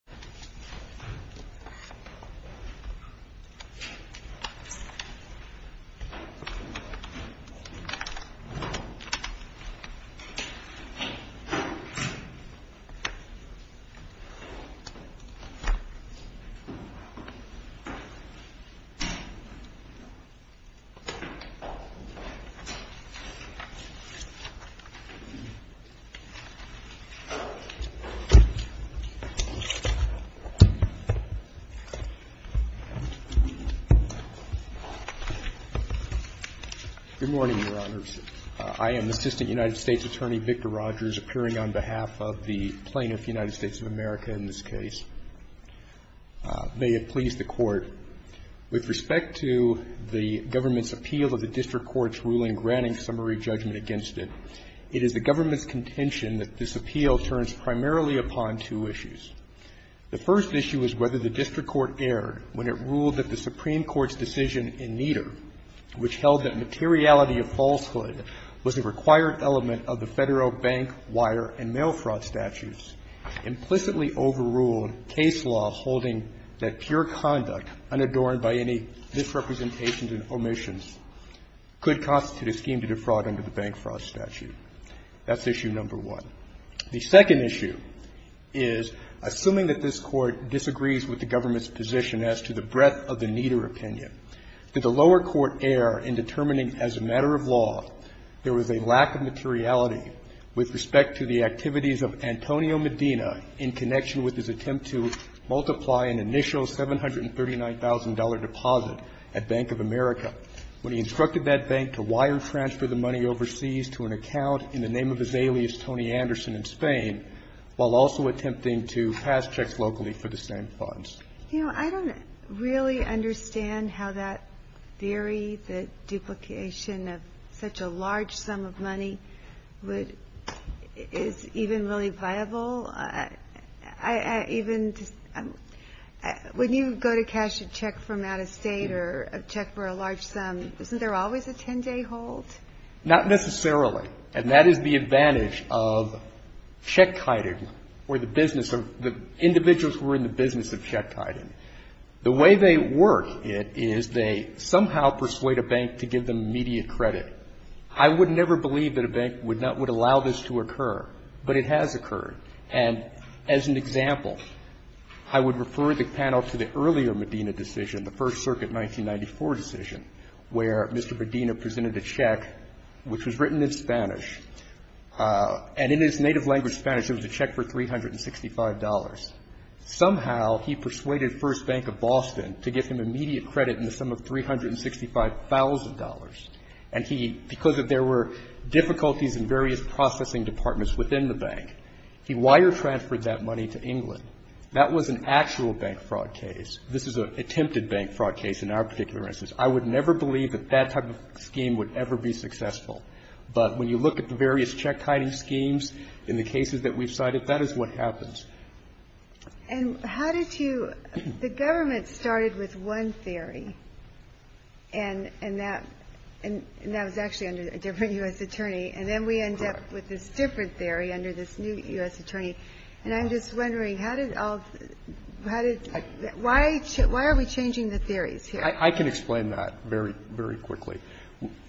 This video was made in Cooperation with the U.S. Department of State. Good morning, Your Honors. I am Assistant United States Attorney Victor Rogers, appearing on behalf of the plaintiff, United States of America, in this case. May it please the Court, with respect to the government's appeal of the district court's ruling granting summary judgment against it, it is the government's contention that this appeal turns primarily upon two issues. The first issue is whether the district court erred when it ruled that the Supreme Court's decision in Nieder, which held that materiality of falsehood was a required element of the Federal bank, wire, and mail fraud statutes, implicitly overruled case law holding that pure conduct, unadorned by any misrepresentations and omissions, could constitute a scheme to defraud under the bank fraud statute. That's issue number one. The second issue is, assuming that this Court disagrees with the government's position as to the breadth of the Nieder opinion, did the lower court err in determining as a matter of law there was a lack of materiality with respect to the activities of Antonio Medina in connection with his attempt to multiply an initial $739,000 deposit at Bank of America when he instructed that bank to wire transfer the money overseas to an account in the name of his alias, Tony Anderson, in Spain, while also attempting to pass checks locally for the same funds? You know, I don't really understand how that theory, the duplication of such a large sum of money, would, is even really viable. I, I, I even, when you go to cash a check from out of state or a check for a large sum, isn't there always a 10-day hold? Not necessarily. And that is the advantage of check-kiting or the business of, the individuals who are in the business of check-kiting. The way they work it is they somehow persuade a bank to give them immediate credit. I would never believe that a bank would not, would allow this to occur. But it has occurred. And as an example, I would refer the panel to the earlier Medina decision, the First Bank, which was written in Spanish, and in its native language, Spanish, it was a check for $365. Somehow, he persuaded First Bank of Boston to give him immediate credit in the sum of $365,000, and he, because there were difficulties in various processing departments within the bank, he wire-transferred that money to England. That was an actual bank fraud case. This is an attempted bank fraud case in our particular instance. I would never believe that that type of scheme would ever be successful. But when you look at the various check-kiting schemes in the cases that we've cited, that is what happens. And how did you, the government started with one theory, and that was actually under a different U.S. attorney, and then we end up with this different theory under this new U.S. attorney. And I'm just wondering, how did all, how did, why are we changing the theories here? I can explain that very, very quickly.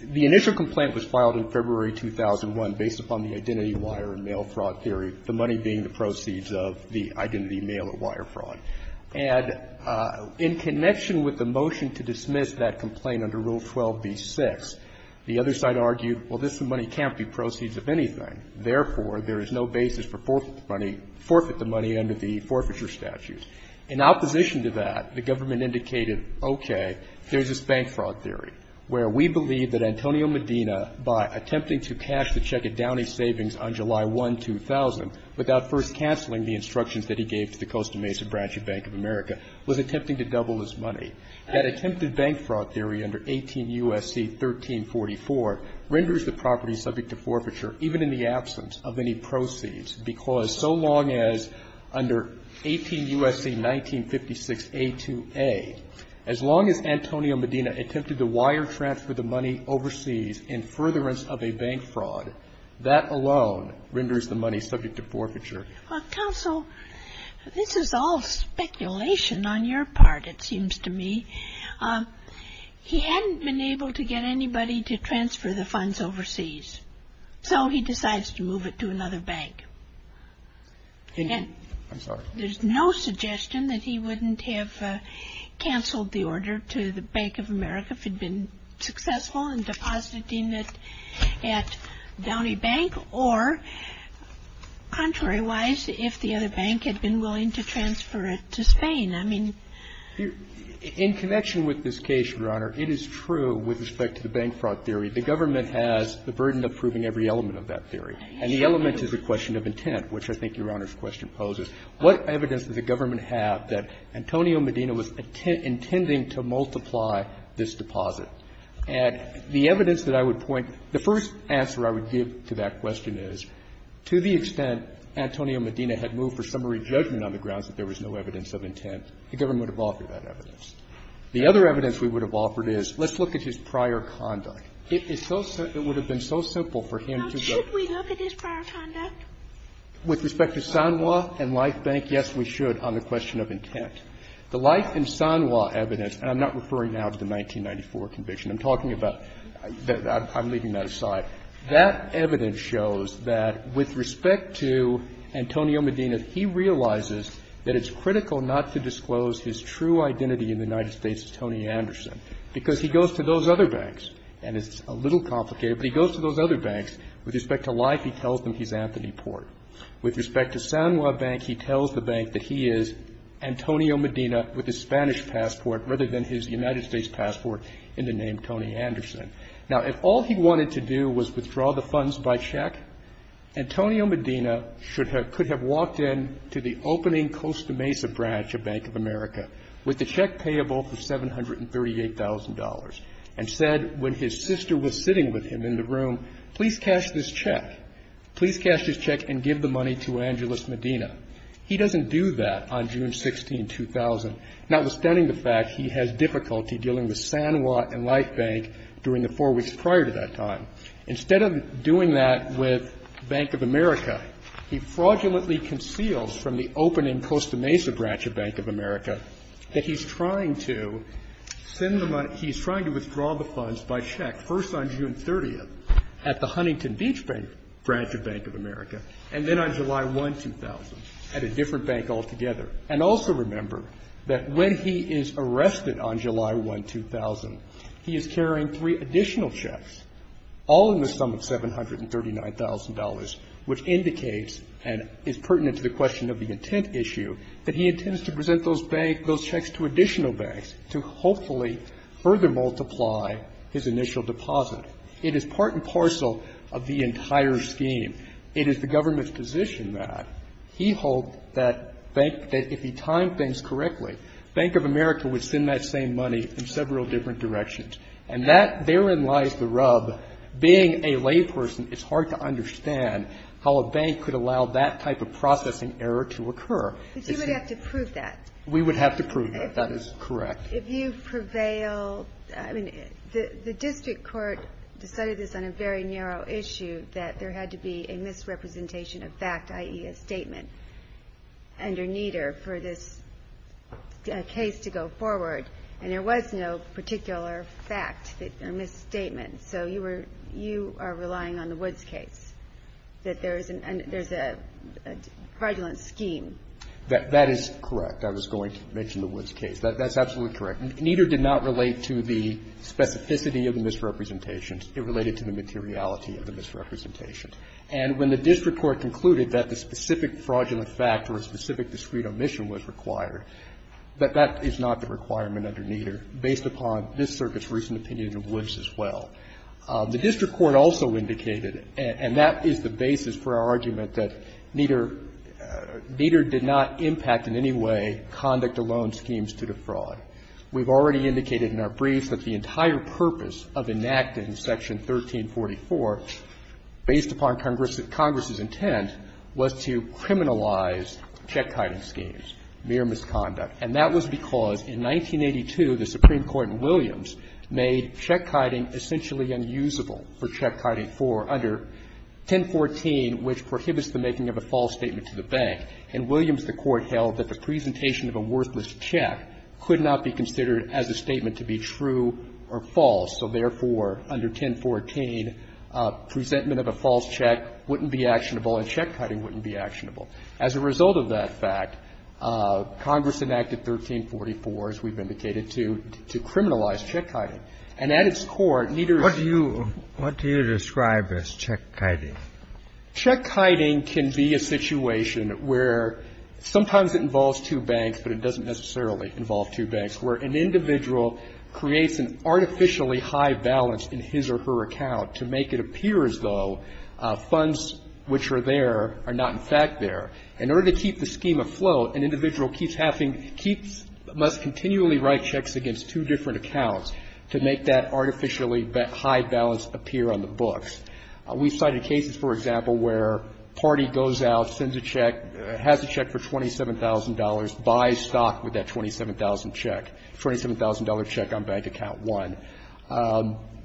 The initial complaint was filed in February 2001 based upon the identity wire and mail fraud theory, the money being the proceeds of the identity mail and wire fraud. And in connection with the motion to dismiss that complaint under Rule 12b-6, the other side argued, well, this money can't be proceeds of anything. Therefore, there is no basis for forfeiture money, forfeit the money under the forfeiture statute. In opposition to that, the government indicated, okay, there's this bank fraud theory, where we believe that Antonio Medina, by attempting to cash the check at Downey Savings on July 1, 2000, without first canceling the instructions that he gave to the Costa Mesa Branch of Bank of America, was attempting to double his money. That attempted bank fraud theory under 18 U.S.C. 1344 renders the property subject to forfeiture, even in the absence of any 1956 A2A. As long as Antonio Medina attempted to wire transfer the money overseas in furtherance of a bank fraud, that alone renders the money subject to forfeiture. Well, counsel, this is all speculation on your part, it seems to me. He hadn't been able to get anybody to transfer the funds overseas, so he decides to move it to another bank. I'm sorry. There's no suggestion that he wouldn't have canceled the order to the Bank of America if he'd been successful in depositing it at Downey Bank, or, contrary wise, if the other bank had been willing to transfer it to Spain. I mean you're In connection with this case, Your Honor, it is true with respect to the bank fraud theory. The government has the burden of proving every element of that theory, and the element is a question of intent, which I think Your Honor's question poses. What evidence does the government have that Antonio Medina was intending to multiply this deposit? And the evidence that I would point to, the first answer I would give to that question is, to the extent Antonio Medina had moved for summary judgment on the grounds that there was no evidence of intent, the government would have offered that evidence. The other evidence we would have offered is, let's look at his prior conduct. It is so simple. It would have been so simple for him to go Now, should we look at his prior conduct? With respect to Sanwa and Life Bank, yes, we should, on the question of intent. The Life and Sanwa evidence, and I'm not referring now to the 1994 conviction. I'm talking about the – I'm leaving that aside. That evidence shows that with respect to Antonio Medina, he realizes that it's critical not to disclose his true identity in the United States as Tony Anderson, because he goes to those other banks. And it's a little complicated, but he goes to those other banks. With respect to Life, he tells them he's Anthony Port. With respect to Sanwa Bank, he tells the bank that he is Antonio Medina with his Spanish passport rather than his United States passport in the name Tony Anderson. Now, if all he wanted to do was withdraw the funds by check, Antonio Medina should have – could have walked in to the opening Costa Mesa branch of Bank of America with the check payable for $738,000 and said, when his sister was sitting with him in the room, please cash this check. Please cash this check and give the money to Angeles Medina. He doesn't do that on June 16, 2000, notwithstanding the fact he has difficulty dealing with Sanwa and Life Bank during the four weeks prior to that time. Instead of doing that with Bank of America, he fraudulently conceals from the opening Costa Mesa branch of Bank of America that he's trying to send the money – he's trying to withdraw the funds by check, first on June 30th at the Huntington Beach branch of Bank of America, and then on July 1, 2000 at a different bank altogether. And also remember that when he is arrested on July 1, 2000, he is carrying three additional checks, all in the sum of $739,000, which indicates, and is pertinent to the question of the intent issue, that he intends to present those bank – those bank checks to Sanwa and Life Bank. Now, the question is, how does he do that, and how does he do it in such a way that he doesn't have to multiply his initial deposit? It is part and parcel of the entire scheme. It is the government's position that he holds that bank – that if he timed things correctly, Bank of America would send that same money in several different directions. And that – therein lies the rub. Being a layperson, it's hard to understand how a bank could allow that type of processing error to occur. But you would have to prove that. We would have to prove that. That is correct. If you prevail – I mean, the district court decided this on a very narrow issue, that there had to be a misrepresentation of fact, i.e., a statement, and or neither, for this case to go forward. And there was no particular fact, a misstatement. So you were – you are relying on the Woods case, that there is an – there's a fraudulent scheme. That is correct. I was going to mention the Woods case. That's absolutely correct. Neither did not relate to the specificity of the misrepresentations. It related to the materiality of the misrepresentations. And when the district court concluded that the specific fraudulent fact or a specific discrete omission was required, that that is not the requirement under neither, based upon this Circuit's recent opinion of Woods as well. The district court also indicated, and that is the basis for our argument, that neither – neither did not impact in any way conduct alone schemes to defraud. We've already indicated in our briefs that the entire purpose of enacting Section 1344, based upon Congress's intent, was to criminalize check-kiting schemes, mere misconduct. And that was because in 1982, the Supreme Court in Williams made check-kiting essentially unusable for check-kiting for under 1014, which prohibits the making of a false statement to the bank. In Williams, the Court held that the presentation of a worthless check could not be considered as a statement to be true or false. So, therefore, under 1014, presentment of a false check wouldn't be actionable and check-kiting wouldn't be actionable. As a result of that fact, Congress enacted 1344, as we've indicated, to – to criminalize check-kiting. And at its core, neither of you – Kennedy. What do you – what do you describe as check-kiting? Check-kiting can be a situation where sometimes it involves two banks, but it doesn't necessarily involve two banks, where an individual creates an artificially high balance in his or her account to make it appear as though funds which are there are not, in fact, there. In order to keep the scheme afloat, an individual keeps having – keeps – must to make that artificially high balance appear on the books. We've cited cases, for example, where a party goes out, sends a check, has a check for $27,000, buys stock with that $27,000 check, $27,000 check on Bank Account 1.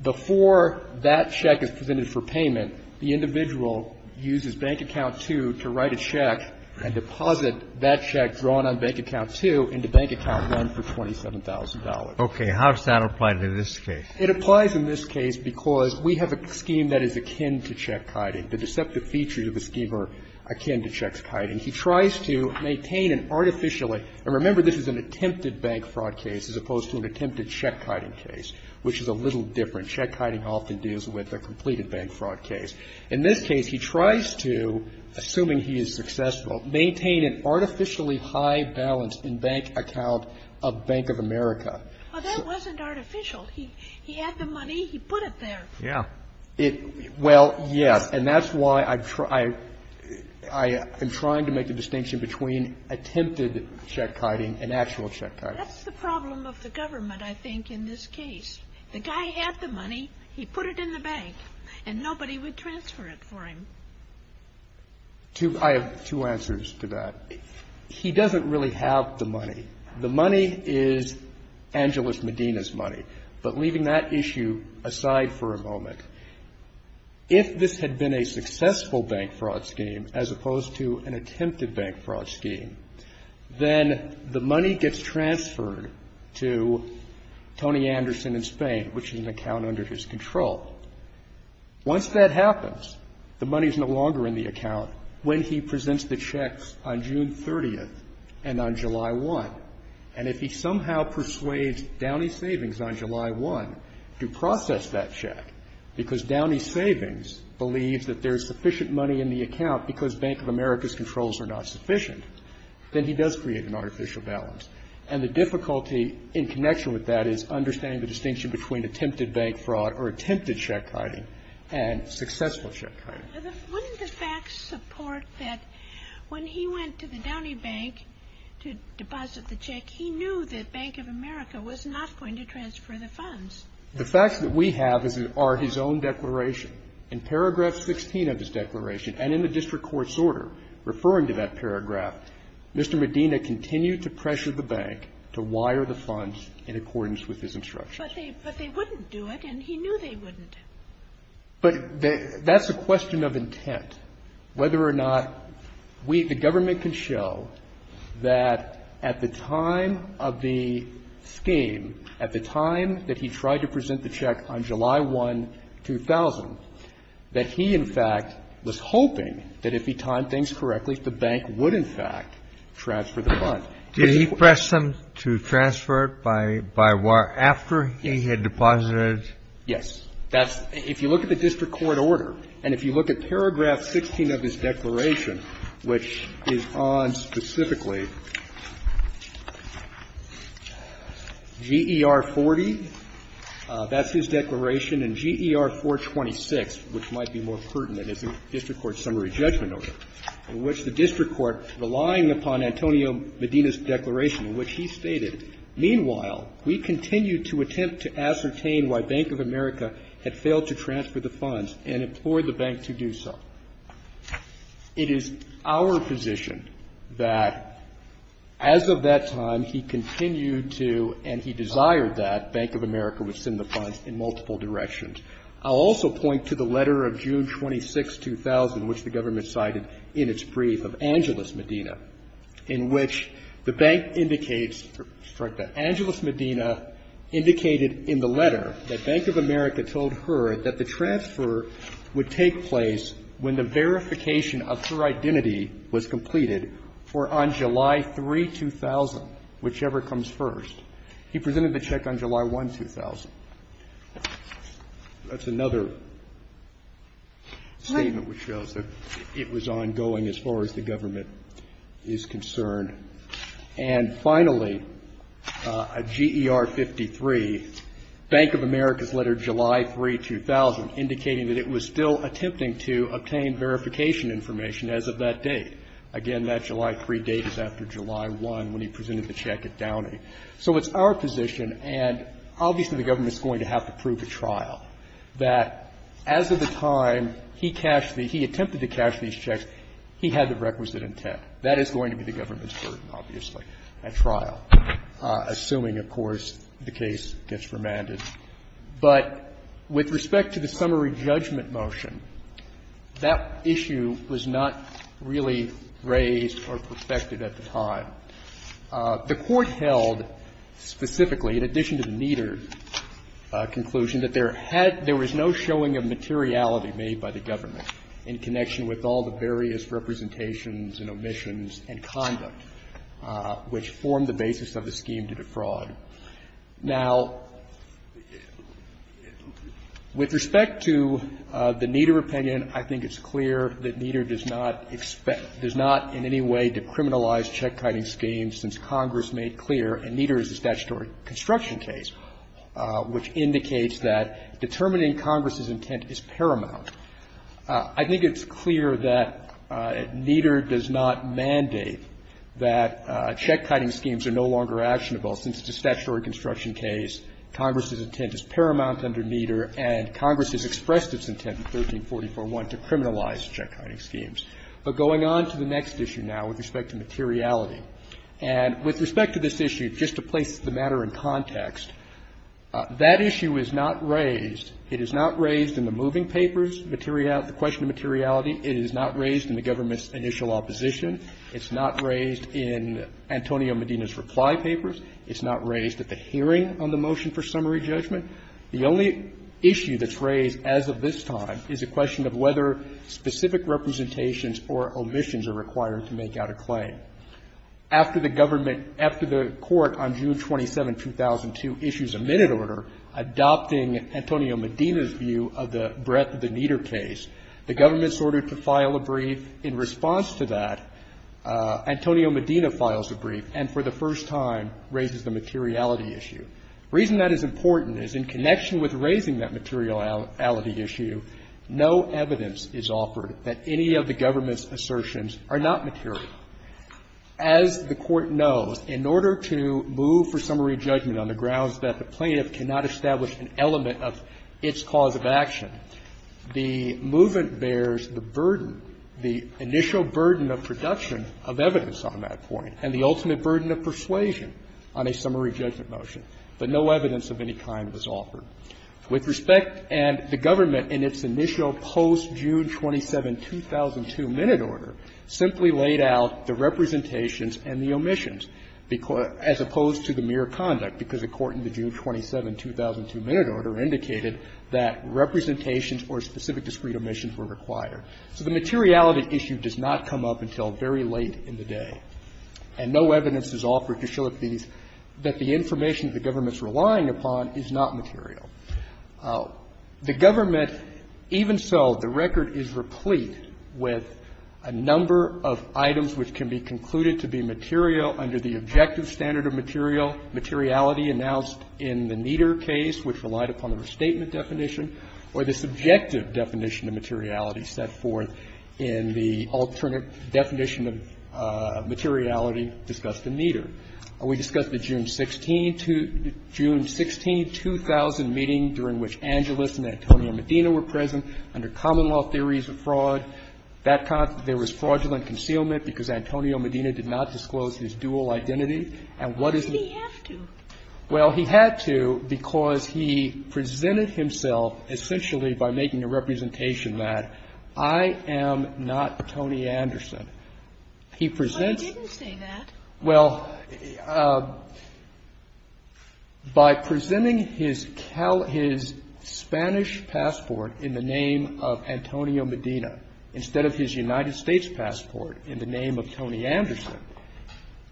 Before that check is presented for payment, the individual uses Bank Account 2 to write a check and deposit that check drawn on Bank Account 2 into Bank Account 1 for $27,000. Okay. How does that apply to this case? It applies in this case because we have a scheme that is akin to check-kiting. The deceptive features of the scheme are akin to check-kiting. He tries to maintain an artificially – and remember, this is an attempted bank fraud case as opposed to an attempted check-kiting case, which is a little different. Check-kiting often deals with a completed bank fraud case. In this case, he tries to, assuming he is successful, maintain an artificially high balance in Bank Account of Bank of America. Well, that wasn't artificial. He had the money. He put it there. Yeah. Well, yeah, and that's why I'm trying to make a distinction between attempted check-kiting and actual check-kiting. That's the problem of the government, I think, in this case. The guy had the money. He put it in the bank, and nobody would transfer it for him. I have two answers to that. He doesn't really have the money. The money is Angeles Medina's money. But leaving that issue aside for a moment, if this had been a successful bank fraud scheme as opposed to an attempted bank fraud scheme, then the money gets transferred to Tony Anderson in Spain, which is an account under his control. Once that happens, the money is no longer in the account. Now, when he presents the checks on June 30th and on July 1, and if he somehow persuades Downey Savings on July 1 to process that check, because Downey Savings believes that there's sufficient money in the account because Bank of America's controls are not sufficient, then he does create an artificial balance. And the difficulty in connection with that is understanding the distinction between attempted bank fraud or attempted check hiding and successful check hiding. Wouldn't the facts support that when he went to the Downey Bank to deposit the check, he knew that Bank of America was not going to transfer the funds? The facts that we have are his own declaration. In paragraph 16 of his declaration and in the district court's order referring to that paragraph, Mr. Medina continued to pressure the bank to wire the funds in accordance with his instructions. But they wouldn't do it, and he knew they wouldn't. But that's a question of intent, whether or not we, the government can show that at the time of the scheme, at the time that he tried to present the check on July 1, 2000, that he, in fact, was hoping that if he timed things correctly, the bank would, in fact, transfer the funds. Did he press them to transfer it by wire after he had deposited it? Yes. That's – if you look at the district court order, and if you look at paragraph 16 of his declaration, which is on specifically GER 40, that's his declaration, and GER 426, which might be more pertinent as a district court summary judgment order, in which the district court, relying upon Antonio Medina's declaration, in which he stated, meanwhile, we continue to attempt to ascertain why Bank of America had failed to transfer the funds and implored the bank to do so. It is our position that as of that time, he continued to, and he desired that, Bank of America would send the funds in multiple directions. I'll also point to the letter of June 26, 2000, which the government cited in its brief of Angeles Medina, in which the bank indicates – sorry, the Angeles Medina indicated in the letter that Bank of America told her that the transfer would take place when the verification of her identity was completed for on July 3, 2000, whichever comes first. He presented the check on July 1, 2000. That's another statement which shows that it was ongoing as far as the government is concerned. And finally, GER 53, Bank of America's letter July 3, 2000, indicating that it was still attempting to obtain verification information as of that date. Again, that July 3 date is after July 1, when he presented the check at Downey. So it's our position, and obviously the government is going to have to prove at trial, that as of the time he cashed the – he attempted to cash these checks, he had the requisite intent. That is going to be the government's burden, obviously, at trial, assuming, of course, the case gets remanded. But with respect to the summary judgment motion, that issue was not really raised or perspectived at the time. The Court held specifically, in addition to the Nieder conclusion, that there had – there was no showing of materiality made by the government in connection with all the various representations and omissions and conduct which formed the basis of the scheme to defraud. Now, with respect to the Nieder opinion, I think it's clear that Nieder does not expect check-kiting schemes, since Congress made clear, and Nieder is a statutory construction case, which indicates that determining Congress's intent is paramount. I think it's clear that Nieder does not mandate that check-kiting schemes are no longer actionable, since it's a statutory construction case, Congress's intent is paramount under Nieder, and Congress has expressed its intent in 1344-1 to criminalize check-kiting schemes. But going on to the next issue now with respect to materiality, and with respect to this issue, just to place the matter in context, that issue is not raised. It is not raised in the moving papers, the question of materiality. It is not raised in the government's initial opposition. It's not raised in Antonio Medina's reply papers. It's not raised at the hearing on the motion for summary judgment. The only issue that's raised as of this time is a question of whether specific representations or omissions are required to make out a claim. After the government, after the Court on June 27, 2002, issues a minute order adopting Antonio Medina's view of the breadth of the Nieder case, the government's order to file a brief. In response to that, Antonio Medina files a brief and for the first time raises the materiality issue. The reason that is important is in connection with raising that materiality issue, no evidence is offered that any of the government's assertions are not material. As the Court knows, in order to move for summary judgment on the grounds that the plaintiff cannot establish an element of its cause of action, the movement bears the burden, the initial burden of production of evidence on that point and the ultimate burden of persuasion on a summary judgment motion. But no evidence of any kind was offered. With respect, and the government in its initial post-June 27, 2002, minute order simply laid out the representations and the omissions as opposed to the mere conduct, because the Court in the June 27, 2002, minute order indicated that representations or specific discrete omissions were required. So the materiality issue does not come up until very late in the day. And no evidence is offered to show that these, that the information the government's relying upon is not material. The government, even so, the record is replete with a number of items which can be concluded to be material under the objective standard of material, materiality announced in the Nieder case, which relied upon the restatement definition, or the subjective definition of materiality set forth in the alternate definition of materiality discussed in Nieder. We discussed the June 16, 2000 meeting during which Angelis and Antonio Medina were present under common law theories of fraud. That there was fraudulent concealment because Antonio Medina did not disclose his dual identity. And what is the need? Kagan. Well, he had to because he presented himself essentially by making a representation that I am not Tony Anderson. He presents you. But he didn't say that. Well, by presenting his Cal, his Spanish passport in the name of Antonio Medina instead of his United States passport in the name of Tony Anderson,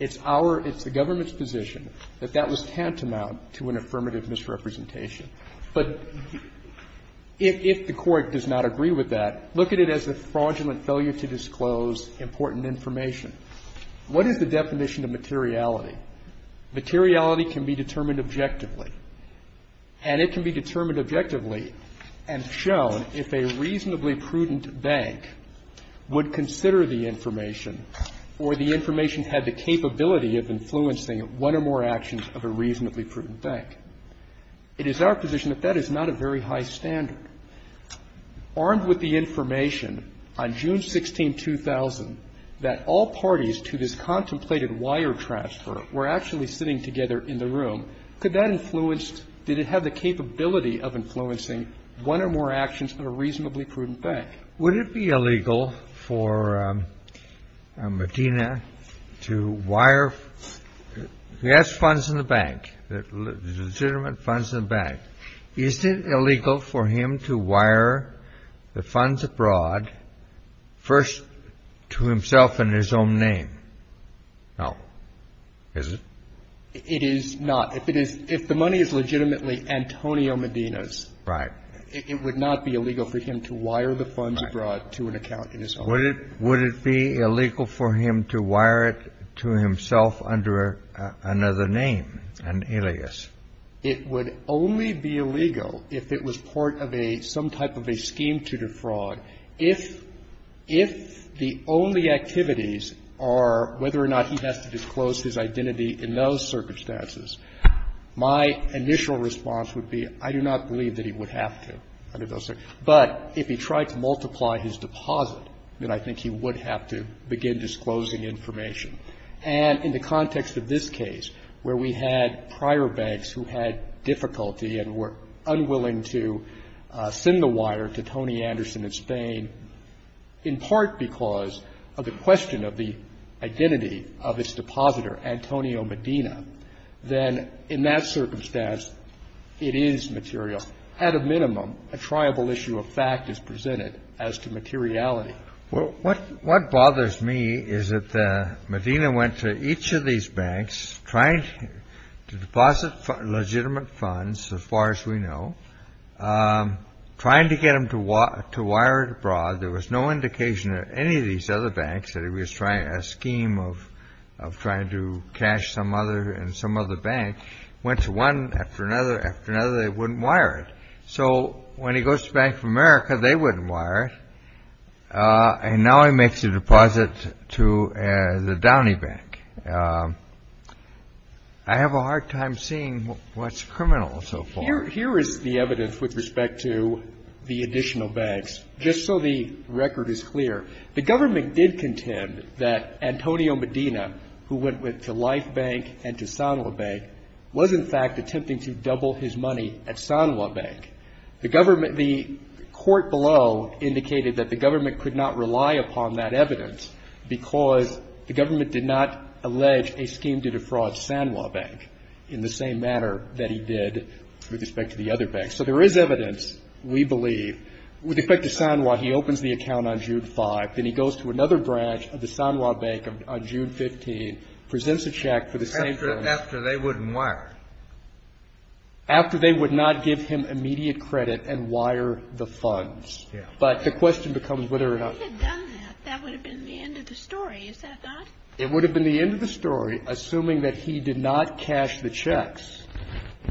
it's our, it's the government's position that that was tantamount to an affirmative misrepresentation. But if the Court does not agree with that, look at it as a fraudulent failure to disclose important information. What is the definition of materiality? Materiality can be determined objectively. And it can be determined objectively and shown if a reasonably prudent bank would consider the information or the information had the capability of influencing one or more actions of a reasonably prudent bank. It is our position that that is not a very high standard. Armed with the information on June 16, 2000, that all parties to this contemplated wire transfer were actually sitting together in the room, could that influence did it have the capability of influencing one or more actions of a reasonably prudent bank? Would it be illegal for Medina to wire, he has funds in the bank, legitimate funds in the bank. Is it illegal for him to wire the funds abroad first to himself in his own name? No, is it? It is not. If it is, if the money is legitimately Antonio Medina's, it would not be illegal for him to wire the funds abroad to an account in his own name. Would it be illegal for him to wire it to himself under another name, an alias? It would only be illegal if it was part of a, some type of a scheme to defraud. If, if the only activities are whether or not he has to disclose his identity in those circumstances, my initial response would be, I do not believe that he would have to under those circumstances. But if he tried to multiply his deposit, then I think he would have to begin disclosing information. And in the context of this case, where we had prior banks who had difficulty and were unwilling to send the wire to Tony Anderson in Spain, in part because of the question of the identity of its depositor, Antonio Medina, then in that circumstance, it is material. At a minimum, a triable issue of fact is presented as to materiality. Well, what, what bothers me is that Medina went to each of these banks trying to deposit legitimate funds, as far as we know, trying to get him to wire it abroad. There was no indication that any of these other banks that he was trying, a scheme of, of trying to cash some other, in some other bank, went to one after another, after another, they wouldn't wire it. So when he goes to Bank of America, they wouldn't wire it. And now he makes a deposit to the Downey Bank. I have a hard time seeing what's criminal so far. Here, here is the evidence with respect to the additional banks. Just so the record is clear, the government did contend that Antonio Medina, who went with the Life Bank and to Sanwa Bank, was in fact attempting to double his money at Sanwa Bank. The government, the court below indicated that the government could not rely upon that evidence because the government did not allege a scheme to defraud Sanwa Bank in the same manner that he did with respect to the other banks. So there is evidence, we believe, with respect to Sanwa. He opens the account on June 5. Then he goes to another branch of the Sanwa Bank on June 15, presents a check for the same firm. After, after they wouldn't wire it. After they would not give him immediate credit and wire the funds. But the question becomes whether or not. If he had done that, that would have been the end of the story, is that not? It would have been the end of the story, assuming that he did not cash the checks.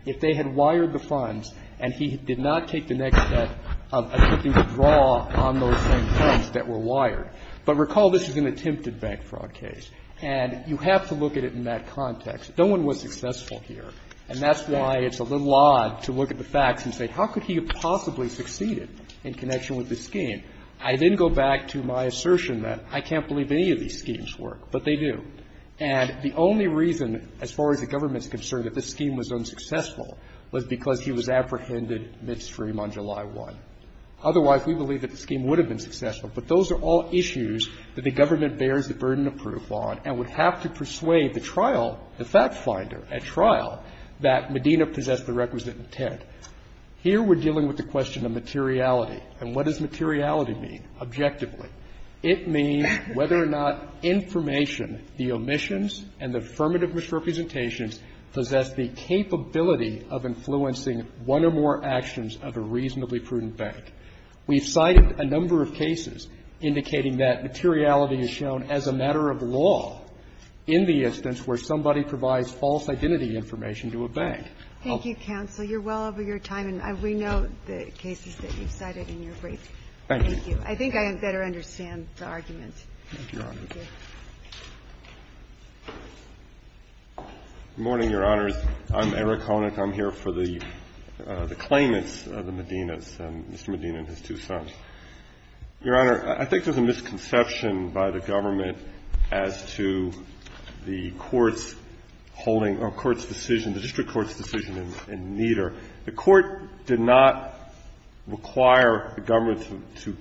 If they had wired the funds and he did not take the next step of attempting to draw on those same funds that were wired. But recall this is an attempted bank fraud case. And you have to look at it in that context. No one was successful here. And that's why it's a little odd to look at the facts and say, how could he have possibly succeeded in connection with this scheme? I then go back to my assertion that I can't believe any of these schemes work. But they do. And the only reason, as far as the government is concerned, that this scheme was unsuccessful was because he was apprehended midstream on July 1. Otherwise, we believe that the scheme would have been successful. But those are all issues that the government bears the burden of proof on and would have to persuade the trial, the fact finder at trial, that Medina possessed the requisite intent. Here we're dealing with the question of materiality. And what does materiality mean, objectively? It means whether or not information, the omissions and the affirmative misrepresentations possess the capability of influencing one or more actions of a reasonably prudent bank. We've cited a number of cases indicating that materiality is shown as a matter of law. In the instance where somebody provides false identity information to a bank. Thank you, counsel. You're well over your time, and we know the cases that you've cited in your brief. Thank you. I think I better understand the argument. Thank you, Your Honor. Good morning, Your Honors. I'm Eric Honick. I'm here for the claimants of the Medinas, Mr. Medina and his two sons. Your Honor, I think there's a misconception by the government as to the court's holding or court's decision, the district court's decision in Nieder. The court did not require the government to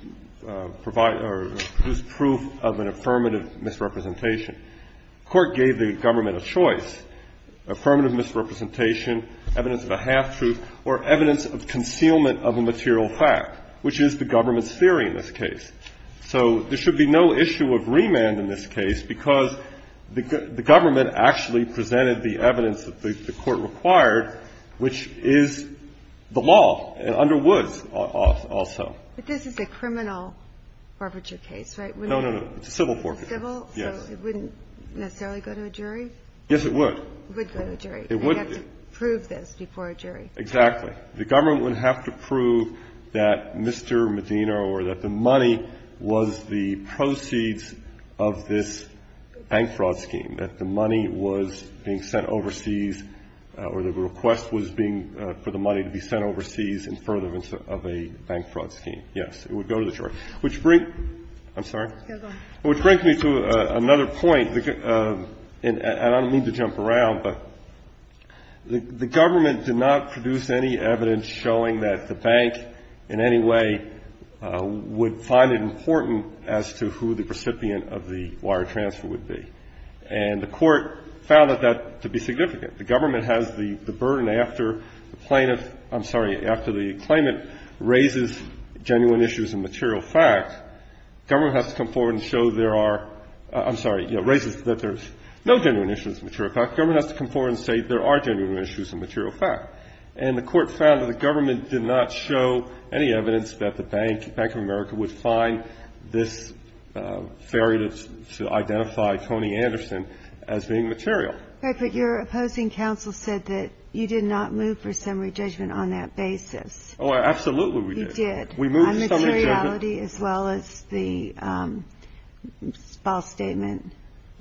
provide or produce proof of an affirmative misrepresentation. The court gave the government a choice. Affirmative misrepresentation, evidence of a half-truth, or evidence of concealment of a material fact, which is the government's theory in this case. So there should be no issue of remand in this case because the government actually presented the evidence that the court required, which is the law under Woods also. But this is a criminal forfeiture case, right? No, no, no. It's a civil forfeiture. Civil? Yes. So it wouldn't necessarily go to a jury? Yes, it would. It would go to a jury. It would. And they'd have to prove this before a jury. Exactly. The government would have to prove that Mr. Medina or that the money was the proceeds of this bank fraud scheme, that the money was being sent overseas or the request was being for the money to be sent overseas in furtherance of a bank fraud scheme. Yes, it would go to the jury. Which brings me to another point, and I don't mean to jump around, but the government did not produce any evidence showing that the bank in any way would find it important as to who the recipient of the wire transfer would be. And the court found that to be significant. The government has the burden after the plaintiff, I'm sorry, after the claimant raises genuine issues and material facts, government has to come forward and show there are, I'm sorry, raises that there's no genuine issues and material facts. Government has to come forward and say there are genuine issues and material facts. And the court found that the government did not show any evidence that the Bank of America would find this fairy to identify Tony Anderson as being material. But your opposing counsel said that you did not move for summary judgment on that basis. Oh, absolutely we did. You did. We moved for summary judgment. On materiality as well as the false statement.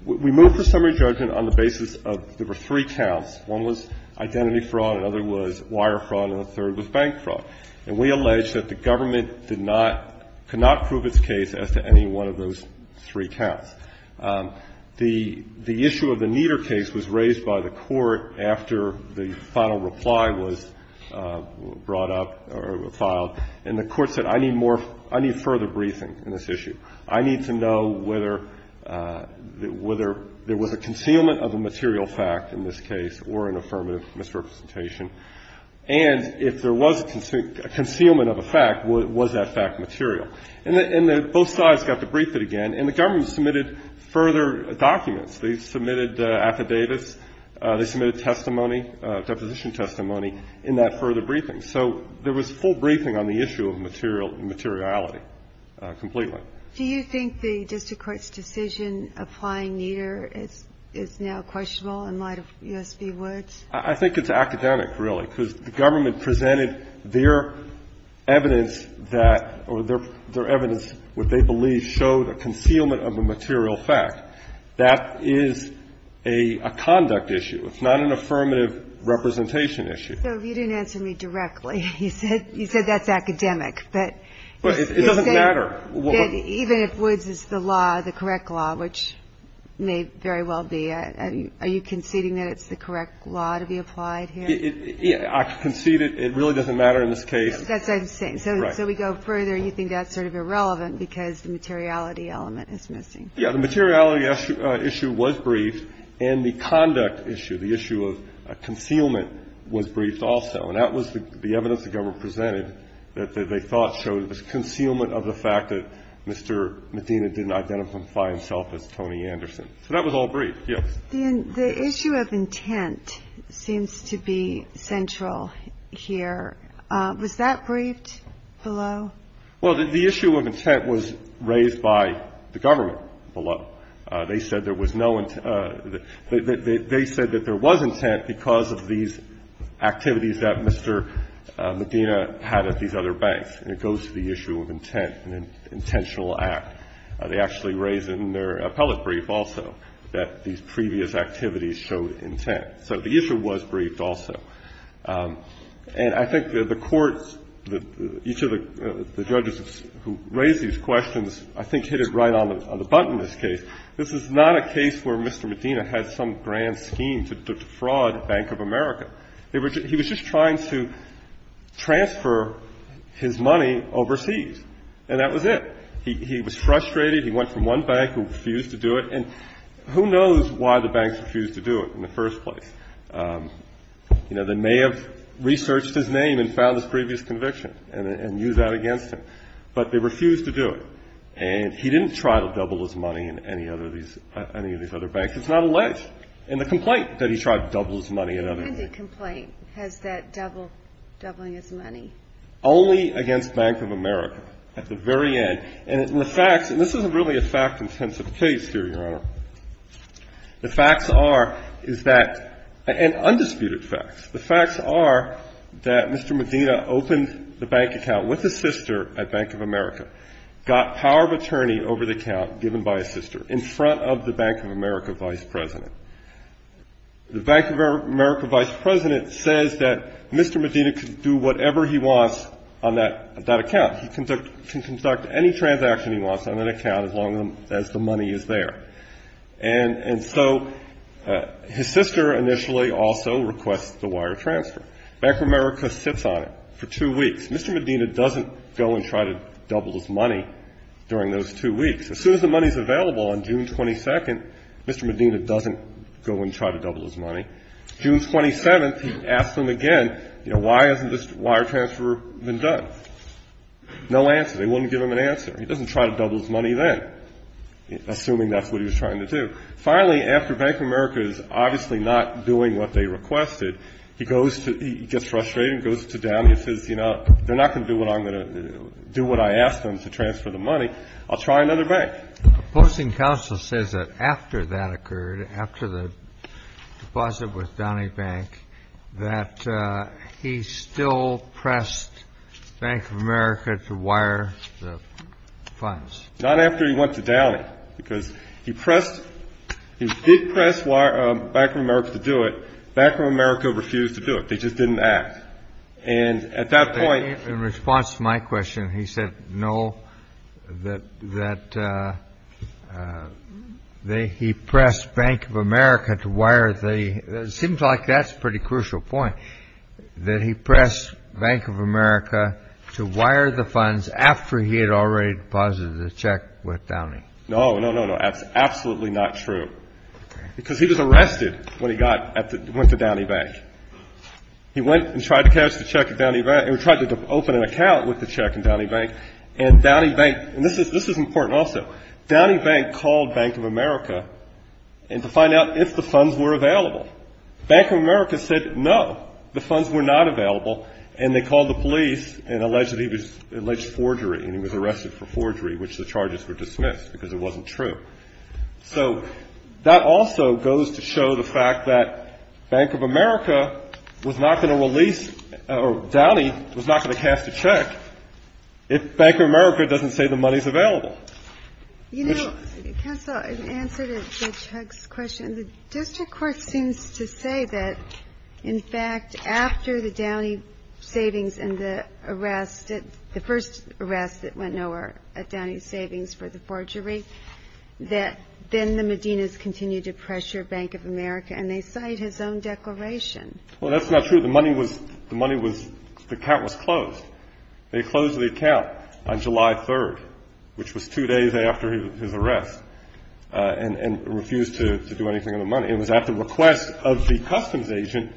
We moved for summary judgment on the basis of, there were three counts. One was identity fraud, another was wire fraud, and the third was bank fraud. And we alleged that the government did not, could not prove its case as to any one of those three counts. The issue of the Nieder case was raised by the court after the final reply was brought up or filed. And the court said I need more, I need further briefing in this issue. I need to know whether there was a concealment of a material fact in this case or an affirmative misrepresentation. And if there was a concealment of a fact, was that fact material? And both sides got to brief it again. And the government submitted further documents. They submitted affidavits. They submitted testimony, deposition testimony in that further briefing. So there was full briefing on the issue of materiality completely. Do you think the district court's decision applying Nieder is now questionable in light of U.S. v. Woods? I think it's academic, really, because the government presented their evidence that, or their evidence, what they believe showed a concealment of a material fact. That is a conduct issue. It's not an affirmative representation issue. So you didn't answer me directly. You said that's academic. It doesn't matter. Even if Woods is the law, the correct law, which may very well be. Are you conceding that it's the correct law to be applied here? I concede it. It really doesn't matter in this case. That's what I'm saying. So we go further. You think that's sort of irrelevant because the materiality element is missing. Yeah, the materiality issue was briefed. And the conduct issue, the issue of concealment, was briefed also. And that was the evidence the government presented that they thought showed a concealment of the fact that Mr. Medina didn't identify himself as Tony Anderson. So that was all briefed. Yes. The issue of intent seems to be central here. Was that briefed below? Well, the issue of intent was raised by the government below. They said there was no intent. They said that there was intent because of these activities that Mr. Medina had at these other banks. And it goes to the issue of intent and intentional act. They actually raised it in their appellate brief also, that these previous activities showed intent. So the issue was briefed also. And I think the courts, each of the judges who raised these questions, I think hit it right on the button in this case. This is not a case where Mr. Medina had some grand scheme to defraud Bank of America. He was just trying to transfer his money overseas. And that was it. He was frustrated. He went from one bank and refused to do it. And who knows why the banks refused to do it in the first place. You know, they may have researched his name and found his previous conviction and used that against him. But they refused to do it. And he didn't try to double his money in any of these other banks. It's not alleged in the complaint that he tried to double his money in other banks. And the complaint has that doubling his money. Only against Bank of America at the very end. And the facts, and this isn't really a fact-intensive case here, Your Honor. The facts are, is that, and undisputed facts. The facts are that Mr. Medina opened the bank account with his sister at Bank of America. Got power of attorney over the account given by his sister in front of the Bank of America vice president. The Bank of America vice president says that Mr. Medina can do whatever he wants on that account. He can conduct any transaction he wants on that account as long as the money is there. And so his sister initially also requests the wire transfer. Bank of America sits on it for two weeks. Mr. Medina doesn't go and try to double his money during those two weeks. As soon as the money's available on June 22nd, Mr. Medina doesn't go and try to double his money. June 27th, he asks them again, you know, why hasn't this wire transfer been done? No answer. They wouldn't give him an answer. He doesn't try to double his money then, assuming that's what he was trying to do. Finally, after Bank of America is obviously not doing what they requested, he gets frustrated and goes to Downey and says, you know, they're not going to do what I asked them to transfer the money. I'll try another bank. The Posting Council says that after that occurred, after the deposit with Downey Bank, that he still pressed Bank of America to wire the funds. Not after he went to Downey. Because he did press Bank of America to do it. Bank of America refused to do it. They just didn't act. And at that point... In response to my question, he said no, that he pressed Bank of America to wire the... It seems like that's a pretty crucial point, that he pressed Bank of America to wire the funds after he had already deposited the check with Downey. No, no, no, no. That's absolutely not true. Because he was arrested when he went to Downey Bank. He went and tried to open an account with the check in Downey Bank. And Downey Bank... And this is important also. Downey Bank called Bank of America to find out if the funds were available. Bank of America said no, the funds were not available. And they called the police and alleged that he had alleged forgery and he was arrested for forgery, which the charges were dismissed because it wasn't true. So that also goes to show the fact that Bank of America was not going to release... or Downey was not going to cast a check if Bank of America doesn't say the money's available. You know, counsel, in answer to Chuck's question, the district court seems to say that, in fact, after the Downey savings and the arrest, the first arrest that went nowhere at Downey Savings for the forgery, that then the Medina's continued to pressure Bank of America, and they cite his own declaration. Well, that's not true. The money was... the account was closed. They closed the account on July 3rd, which was two days after his arrest, and refused to do anything with the money. It was at the request of the customs agent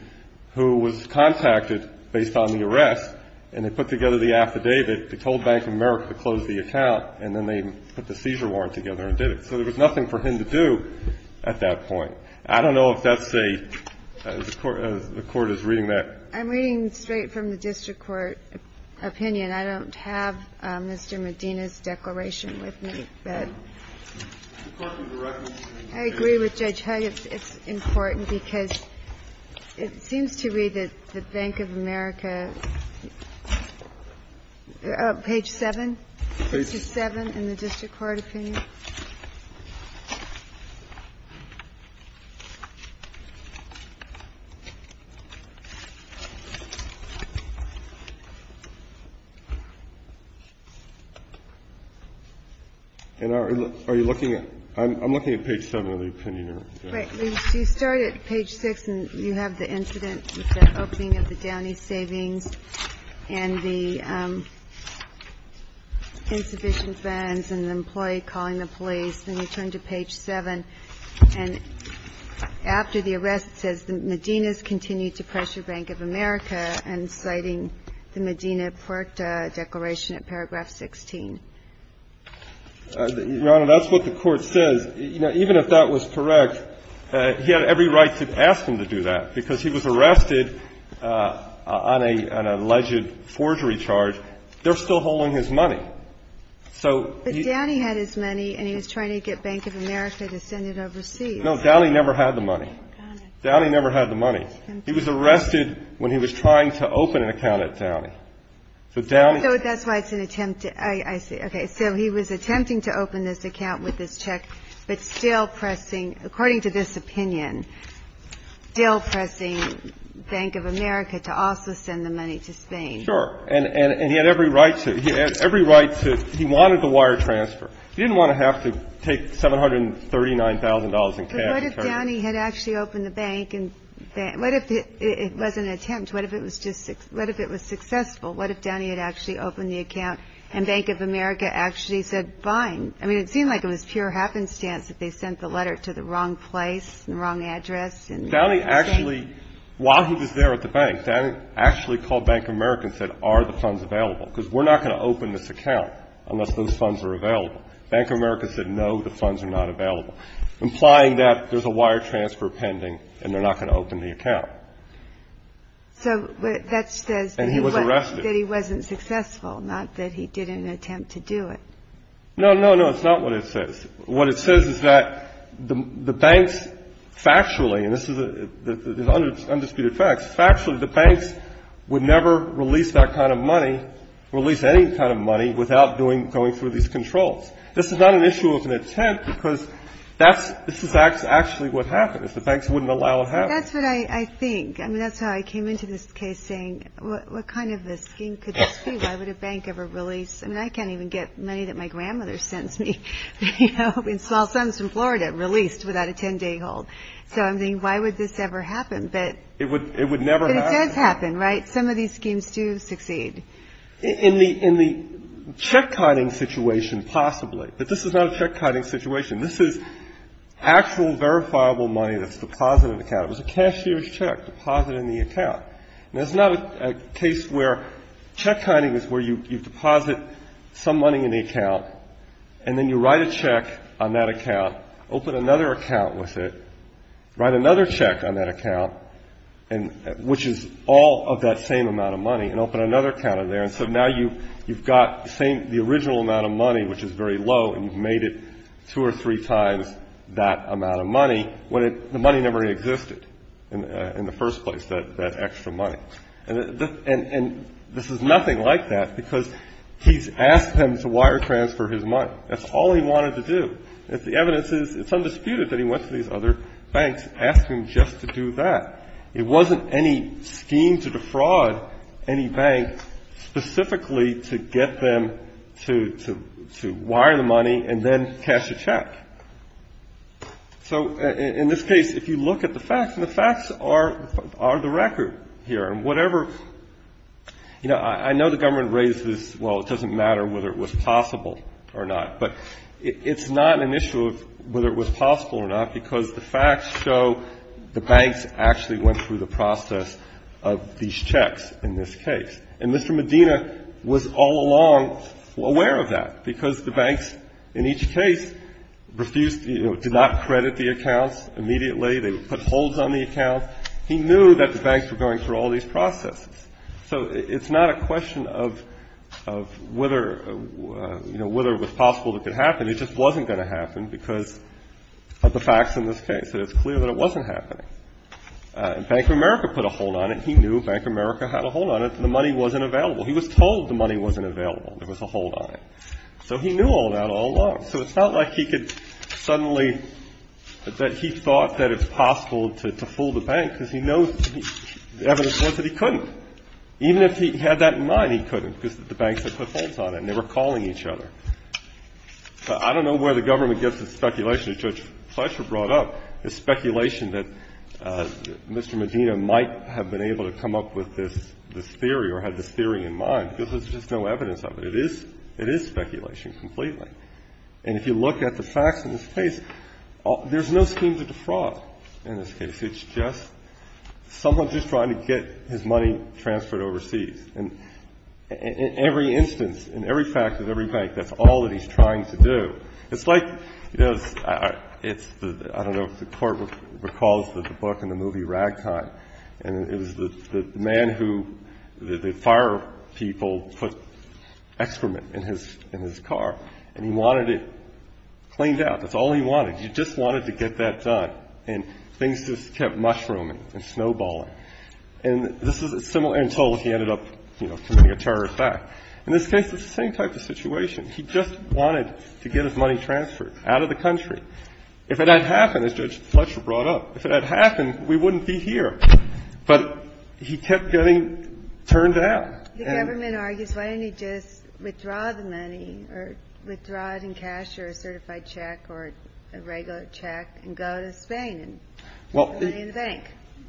who was contacted based on the arrest, and they put together the affidavit. They told Bank of America to close the account, and then they put the seizure warrant together and did it. So there was nothing for him to do at that point. I don't know if that's a... the court is reading that... I'm reading straight from the district court opinion. I don't have Mr. Medina's declaration with me, but... It's important to recognize... I agree with Judge Hugg. It's important because it seems to me that Bank of America... Page 7? Page... 67 in the district court opinion. And are you looking at... I'm looking at page 7 of the opinion here. Right. You start at page 6, and you have the incident with the opening of the Downey Savings and the insufficient funds and the employee calling the police. Then you turn to page 7, and after the arrest, it says, Medina's continued to pressure Bank of America and citing the Medina-Puerta declaration at paragraph 16. Your Honor, that's what the court says. Even if that was correct, he had every right to ask them to do that, because he was arrested on an alleged forgery charge. They're still holding his money. So... But Downey had his money, and he was trying to get Bank of America to send it overseas. No, Downey never had the money. Downey never had the money. He was arrested when he was trying to open an account at Downey. So Downey... No, that's why it's an attempt to... I see. Okay, so he was attempting to open this account with this check, but still pressing, according to this opinion, still pressing Bank of America to also send the money to Spain. Sure. And he had every right to. He had every right to. He wanted the wire transfer. He didn't want to have to take $739,000 in cash. But what if Downey had actually opened the bank? What if it was an attempt? What if it was successful? What if Downey had actually opened the account, and Bank of America actually said, fine? I mean, it seemed like it was pure happenstance that they sent the letter to the wrong place, the wrong address. Downey actually, while he was there at the bank, Downey actually called Bank of America and said, are the funds available? Because we're not going to open this account unless those funds are available. Bank of America said, no, the funds are not available, implying that there's a wire transfer pending, and they're not going to open the account. So that says... And he was arrested. ...that he wasn't successful, not that he did an attempt to do it. No, no, no. It's not what it says. What it says is that the banks, factually, and this is undisputed facts, factually, the banks would never release that kind of money, release any kind of money, without going through these controls. This is not an issue of an attempt, because this is actually what happens. The banks wouldn't allow it to happen. But that's what I think. I mean, that's how I came into this case, saying, what kind of a scheme could this be? Why would a bank ever release? I mean, I can't even get money that my grandmother sends me, you know, in small sums from Florida, released without a 10-day hold. So I'm thinking, why would this ever happen? But... It would never happen. But it does happen, right? Some of these schemes do succeed. In the check-hiding situation, possibly, but this is not a check-hiding situation. This is actual, verifiable money that's deposited in the account. It was a cashier's check deposited in the account. Now, it's not a case where... Check-hiding is where you deposit some money in the account, and then you write a check on that account, open another account with it, write another check on that account, which is all of that same amount of money, and open another account in there. And so now you've got the original amount of money, which is very low, and you've made it two or three times that amount of money, when the money never existed in the first place, that extra money. And this is nothing like that, because he's asked them to wire transfer his money. That's all he wanted to do. The evidence is, it's undisputed that he went to these other banks, asked them just to do that. It wasn't any scheme to defraud any bank, specifically to get them to wire the money, and then cash a check. So, in this case, if you look at the facts, and the facts are the record here, and whatever, you know, I know the government raises, well, it doesn't matter whether it was possible or not, but it's not an issue of whether it was possible or not, because the facts show the banks actually went through the process of these checks in this case. And Mr. Medina was all along aware of that, because the banks, in each case, refused, you know, did not credit the accounts immediately. They put holds on the accounts. He knew that the banks were going through all these processes. So it's not a question of whether, you know, whether it was possible it could happen. It just wasn't going to happen because of the facts in this case. It's clear that it wasn't happening. Bank of America put a hold on it. He knew Bank of America had a hold on it. The money wasn't available. He was told the money wasn't available. There was a hold on it. So he knew all that all along. So it's not like he could suddenly, that he thought that it's possible to fool the bank, because he knows the evidence was that he couldn't. Even if he had that in mind, he couldn't, because the banks had put holds on it, and they were calling each other. I don't know where the government gets its speculation. As Judge Fletcher brought up, the speculation that Mr. Medina might have been able to come up with this theory or had this theory in mind, because there's just no evidence of it. It is speculation completely. And if you look at the facts in this case, there's no scheme to defraud in this case. It's just someone just trying to get his money transferred overseas. And in every instance, in every fact of every bank, that's all that he's trying to do. It's like, I don't know if the Court recalls the book and the movie Ragtime. And it was the man who the fire people put excrement in his car, and he wanted it cleaned out. That's all he wanted. He just wanted to get that done. And things just kept mushrooming and snowballing. And this is similar, and so he ended up committing a terror attack. In this case, it's the same type of situation. He just wanted to get his money transferred out of the country. If it had happened, as Judge Fletcher brought up, if it had happened, we wouldn't be here. But he kept getting turned out. The government argues, why didn't he just withdraw the money, or withdraw it in cash or a certified check or a regular check, and go to Spain and put the money in the bank?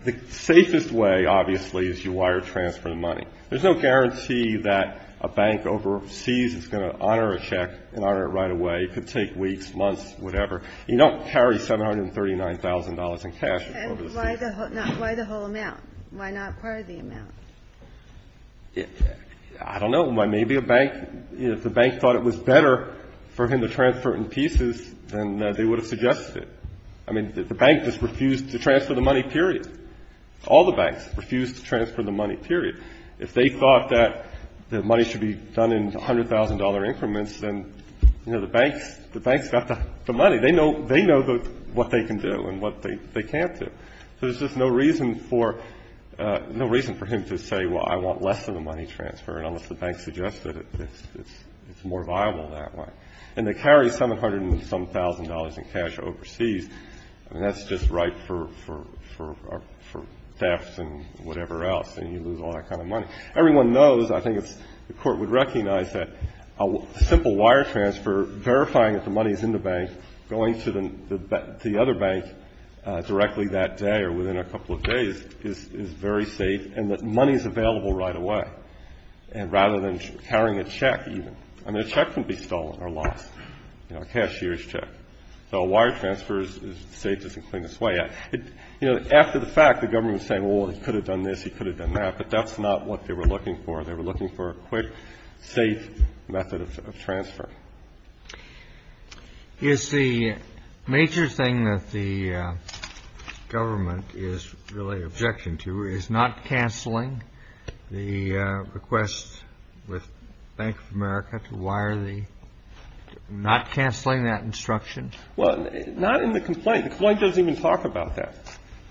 The safest way, obviously, is you wire transfer the money. There's no guarantee that a bank overseas is going to honor a check and honor it right away. It could take weeks, months, whatever. You don't carry $739,000 in cash overseas. And why the whole amount? Why not part of the amount? I don't know. Maybe a bank, if the bank thought it was better for him to transfer it in pieces, then they would have suggested it. I mean, the bank just refused to transfer the money, period. All the banks refused to transfer the money, period. If they thought that the money should be done in $100,000 increments, then, you know, the banks got the money. They know what they can do and what they can't do. So there's just no reason for him to say, well, I want less of the money transferred, unless the bank suggested it's more viable that way. And they carry $700,000 and some $1,000 in cash overseas. I mean, that's just ripe for theft and whatever else, and you lose all that kind of money. Everyone knows, I think the Court would recognize that a simple wire transfer, verifying that the money is in the bank, going to the other bank directly that day or within a couple of days, is very safe and that money is available right away. And rather than carrying a check, even. I mean, a check can be stolen or lost. You know, a cashier's check. So a wire transfer is as safe as the cleanest way. You know, after the fact, the government was saying, well, he could have done this, he could have done that, but that's not what they were looking for. They were looking for a quick, safe method of transfer. Is the major thing that the government is really objection to is not canceling the request with Bank of America to wire the – not canceling that instruction? Well, not in the complaint. The complaint doesn't even talk about that.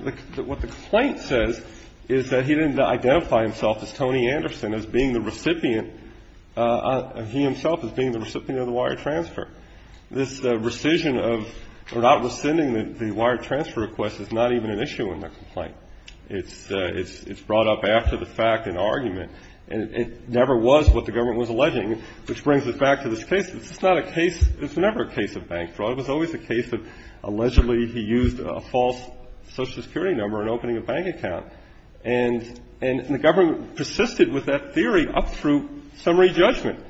What the complaint says is that he didn't identify himself as Tony Anderson as being the recipient – he himself as being the recipient of the wire transfer. This rescission of – or not rescinding the wire transfer request is not even an issue in the complaint. It's brought up after the fact in argument. And it never was what the government was alleging, which brings us back to this case. It's not a case – it's never a case of bank fraud. It was always a case of allegedly he used a false Social Security number in opening a bank account. And the government persisted with that theory up through summary judgment,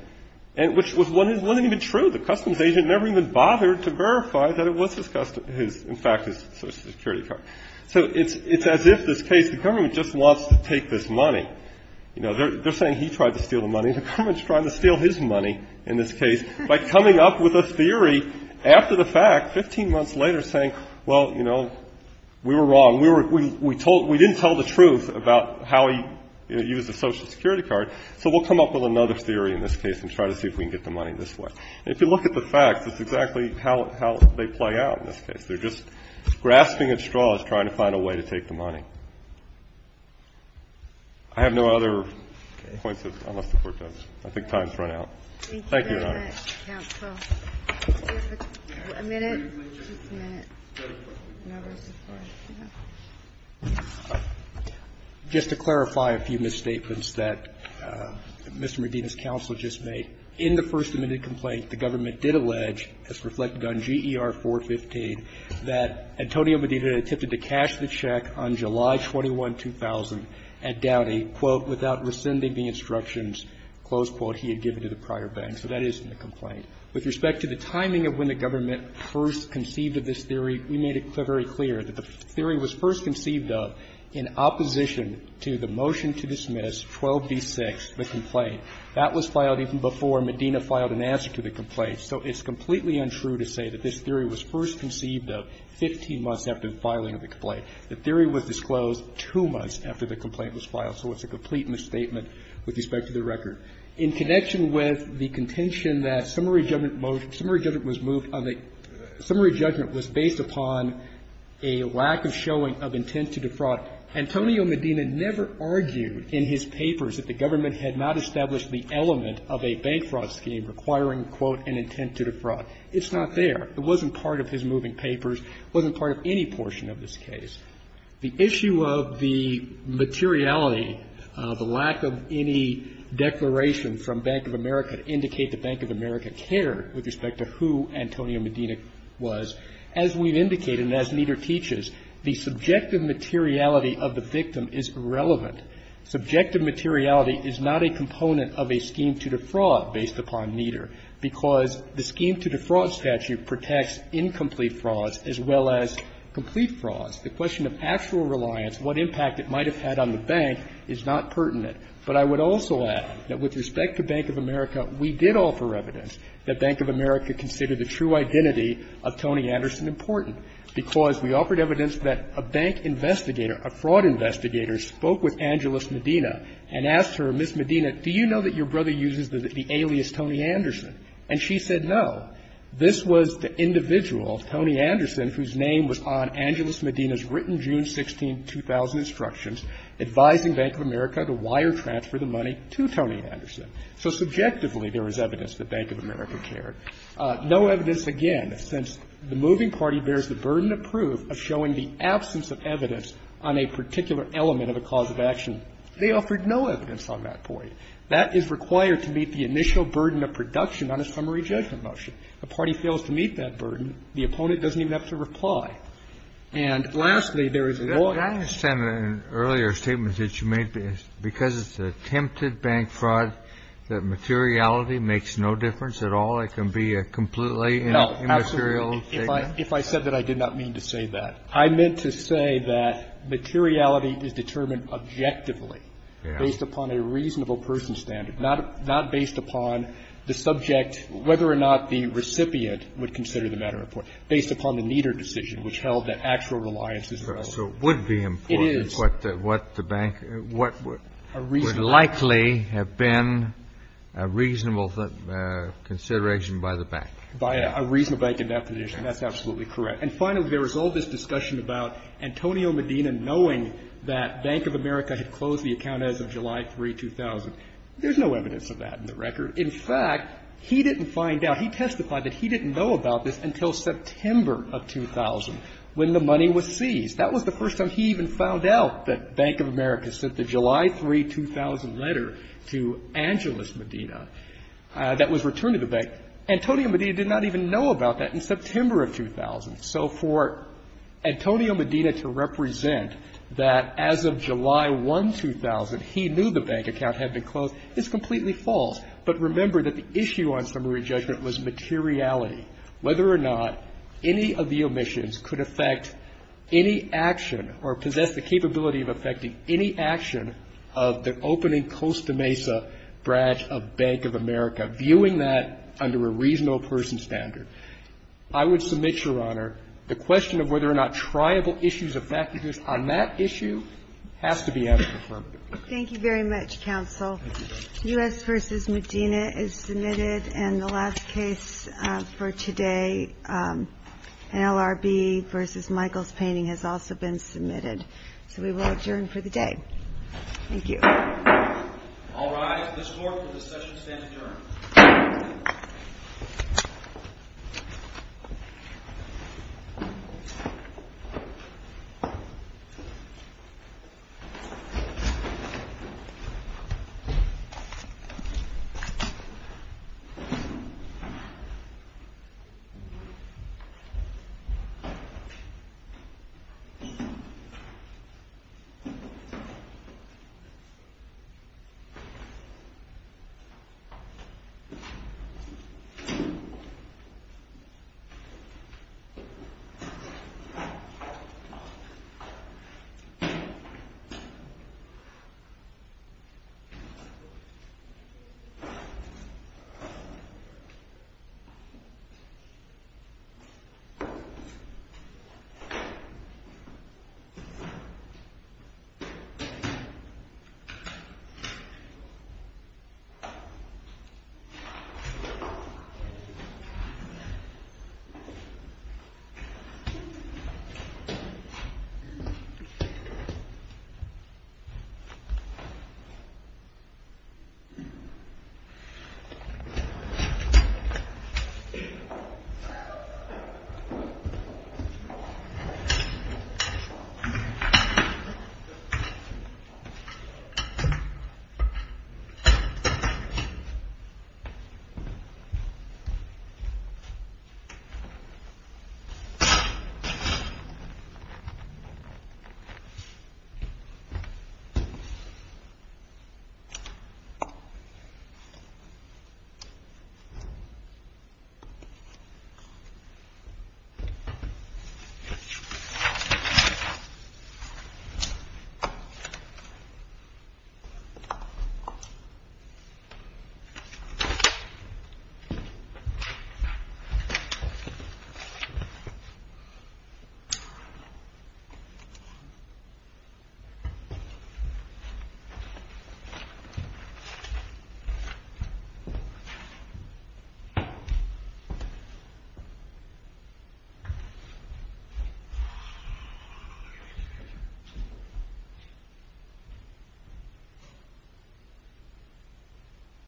which wasn't even true. The customs agent never even bothered to verify that it was in fact his Social Security card. So it's as if this case – the government just wants to take this money. They're saying he tried to steal the money. The government's trying to steal his money in this case by coming up with a theory after the fact 15 months later saying, well, you know, we were wrong. We didn't tell the truth about how he used a Social Security card. So we'll come up with another theory in this case and try to see if we can get the money this way. And if you look at the facts, it's exactly how they play out in this case. They're just grasping at straws trying to find a way to take the money. I have no other points unless the Court does. I think time's run out. Thank you, Your Honor. Thank you very much, counsel. A minute? Just a minute. Just to clarify a few misstatements that Mr. Medina's counsel just made. In the first admitted complaint, the government did allege, as reflected on GER 415, that Antonio Medina attempted to cash the check on July 21, 2000 at Dowdy without rescinding the instructions, close quote, he had given to the prior bank. So that is in the complaint. With respect to the timing of when the government first conceived of this theory, we made it very clear that the theory was first conceived of in opposition to the motion to dismiss 12b-6, the complaint. That was filed even before Medina filed an answer to the complaint. So it's completely untrue to say that this theory was first conceived of 15 months after the filing of the complaint. The theory was disclosed 2 months after the complaint was filed. So it's a complete misstatement with respect to the record. In connection with the contention that summary judgment was moved on the summary judgment was based upon a lack of showing of intent to defraud. Antonio Medina never argued in his papers that the government had not established the element of a bank fraud scheme requiring, quote, an intent to defraud. It's not there. It wasn't part of his moving papers. It wasn't part of any portion of this case. The issue of the materiality, the lack of any declaration from Bank of America to indicate that Bank of America cared with respect to who Antonio Medina was, as we've indicated and as Nieder teaches, the subjective materiality of the victim is irrelevant. Subjective materiality is not a component of a scheme to defraud based upon Nieder because the scheme to defraud statute protects incomplete frauds as well as complete frauds. The question of actual reliance, what impact it might have had on the bank, is not pertinent. But I would also add that with respect to Bank of America, we did offer evidence that Bank of America considered the true identity of Tony Anderson important because we offered evidence that a bank investigator, a fraud investigator, spoke with Angeles Medina and asked her, Ms. Medina, do you know that your brother uses the alias Tony Anderson? And she said no. This was the individual, Tony Anderson, whose name was on Angeles Medina's written June 16, 2000 instructions advising Bank of America to wire transfer the money to Tony Anderson. So subjectively, there is evidence that Bank of America cared. No evidence, again, since the moving party bears the burden of proof of showing the absence of evidence on a particular element of a cause of action, they offered no evidence on that point. That is required to meet the initial burden of production on a summary judgment motion. If a party fails to meet that burden, the opponent doesn't even have to reply. And lastly, there is a law to do that. Kennedy, I understand that in earlier statements that you made, because it's attempted bank fraud, that materiality makes no difference at all? It can be a completely immaterial statement? No, absolutely. If I said that, I did not mean to say that. I meant to say that materiality is determined objectively based upon a reasonable person standard, not based upon the subject, whether or not the recipient would consider the matter important, based upon the neater decision, which held that actual reliance is relevant. So it would be important what the bank, what would likely have been a reasonable consideration by the bank. By a reasonable bank in that position, that's absolutely correct. And finally, there was all this discussion about Antonio Medina knowing that Bank of America had closed the account as of July 3, 2000. There's no evidence of that in the record. In fact, he didn't find out. He testified that he didn't know about this until September of 2000, when the money was seized. That was the first time he even found out that Bank of America sent the July 3, 2000 letter to Angeles Medina that was returned to the bank. Antonio Medina did not even know about that in September of 2000. So for Antonio Medina to represent that as of July 1, 2000, he knew the bank account had been closed is completely false. But remember that the issue on summary judgment was materiality. Whether or not any of the omissions could affect any action or possess the capability of affecting any action of the opening Costa Mesa branch of Bank of America, viewing that under a reasonable person standard. I would submit, Your Honor, the question of whether or not tribal issues affected this on that issue has to be out of the affirmative. Thank you very much, Counsel. U.S. v. Medina is submitted. And the last case for today, an LRB v. Michael's Painting has also been submitted. So we will adjourn for the day. Thank you. All rise. This Court for discussion stands adjourned. Thank you. Thank you, Your Honor. Thank you, Your Honor. Thank you, Your Honor.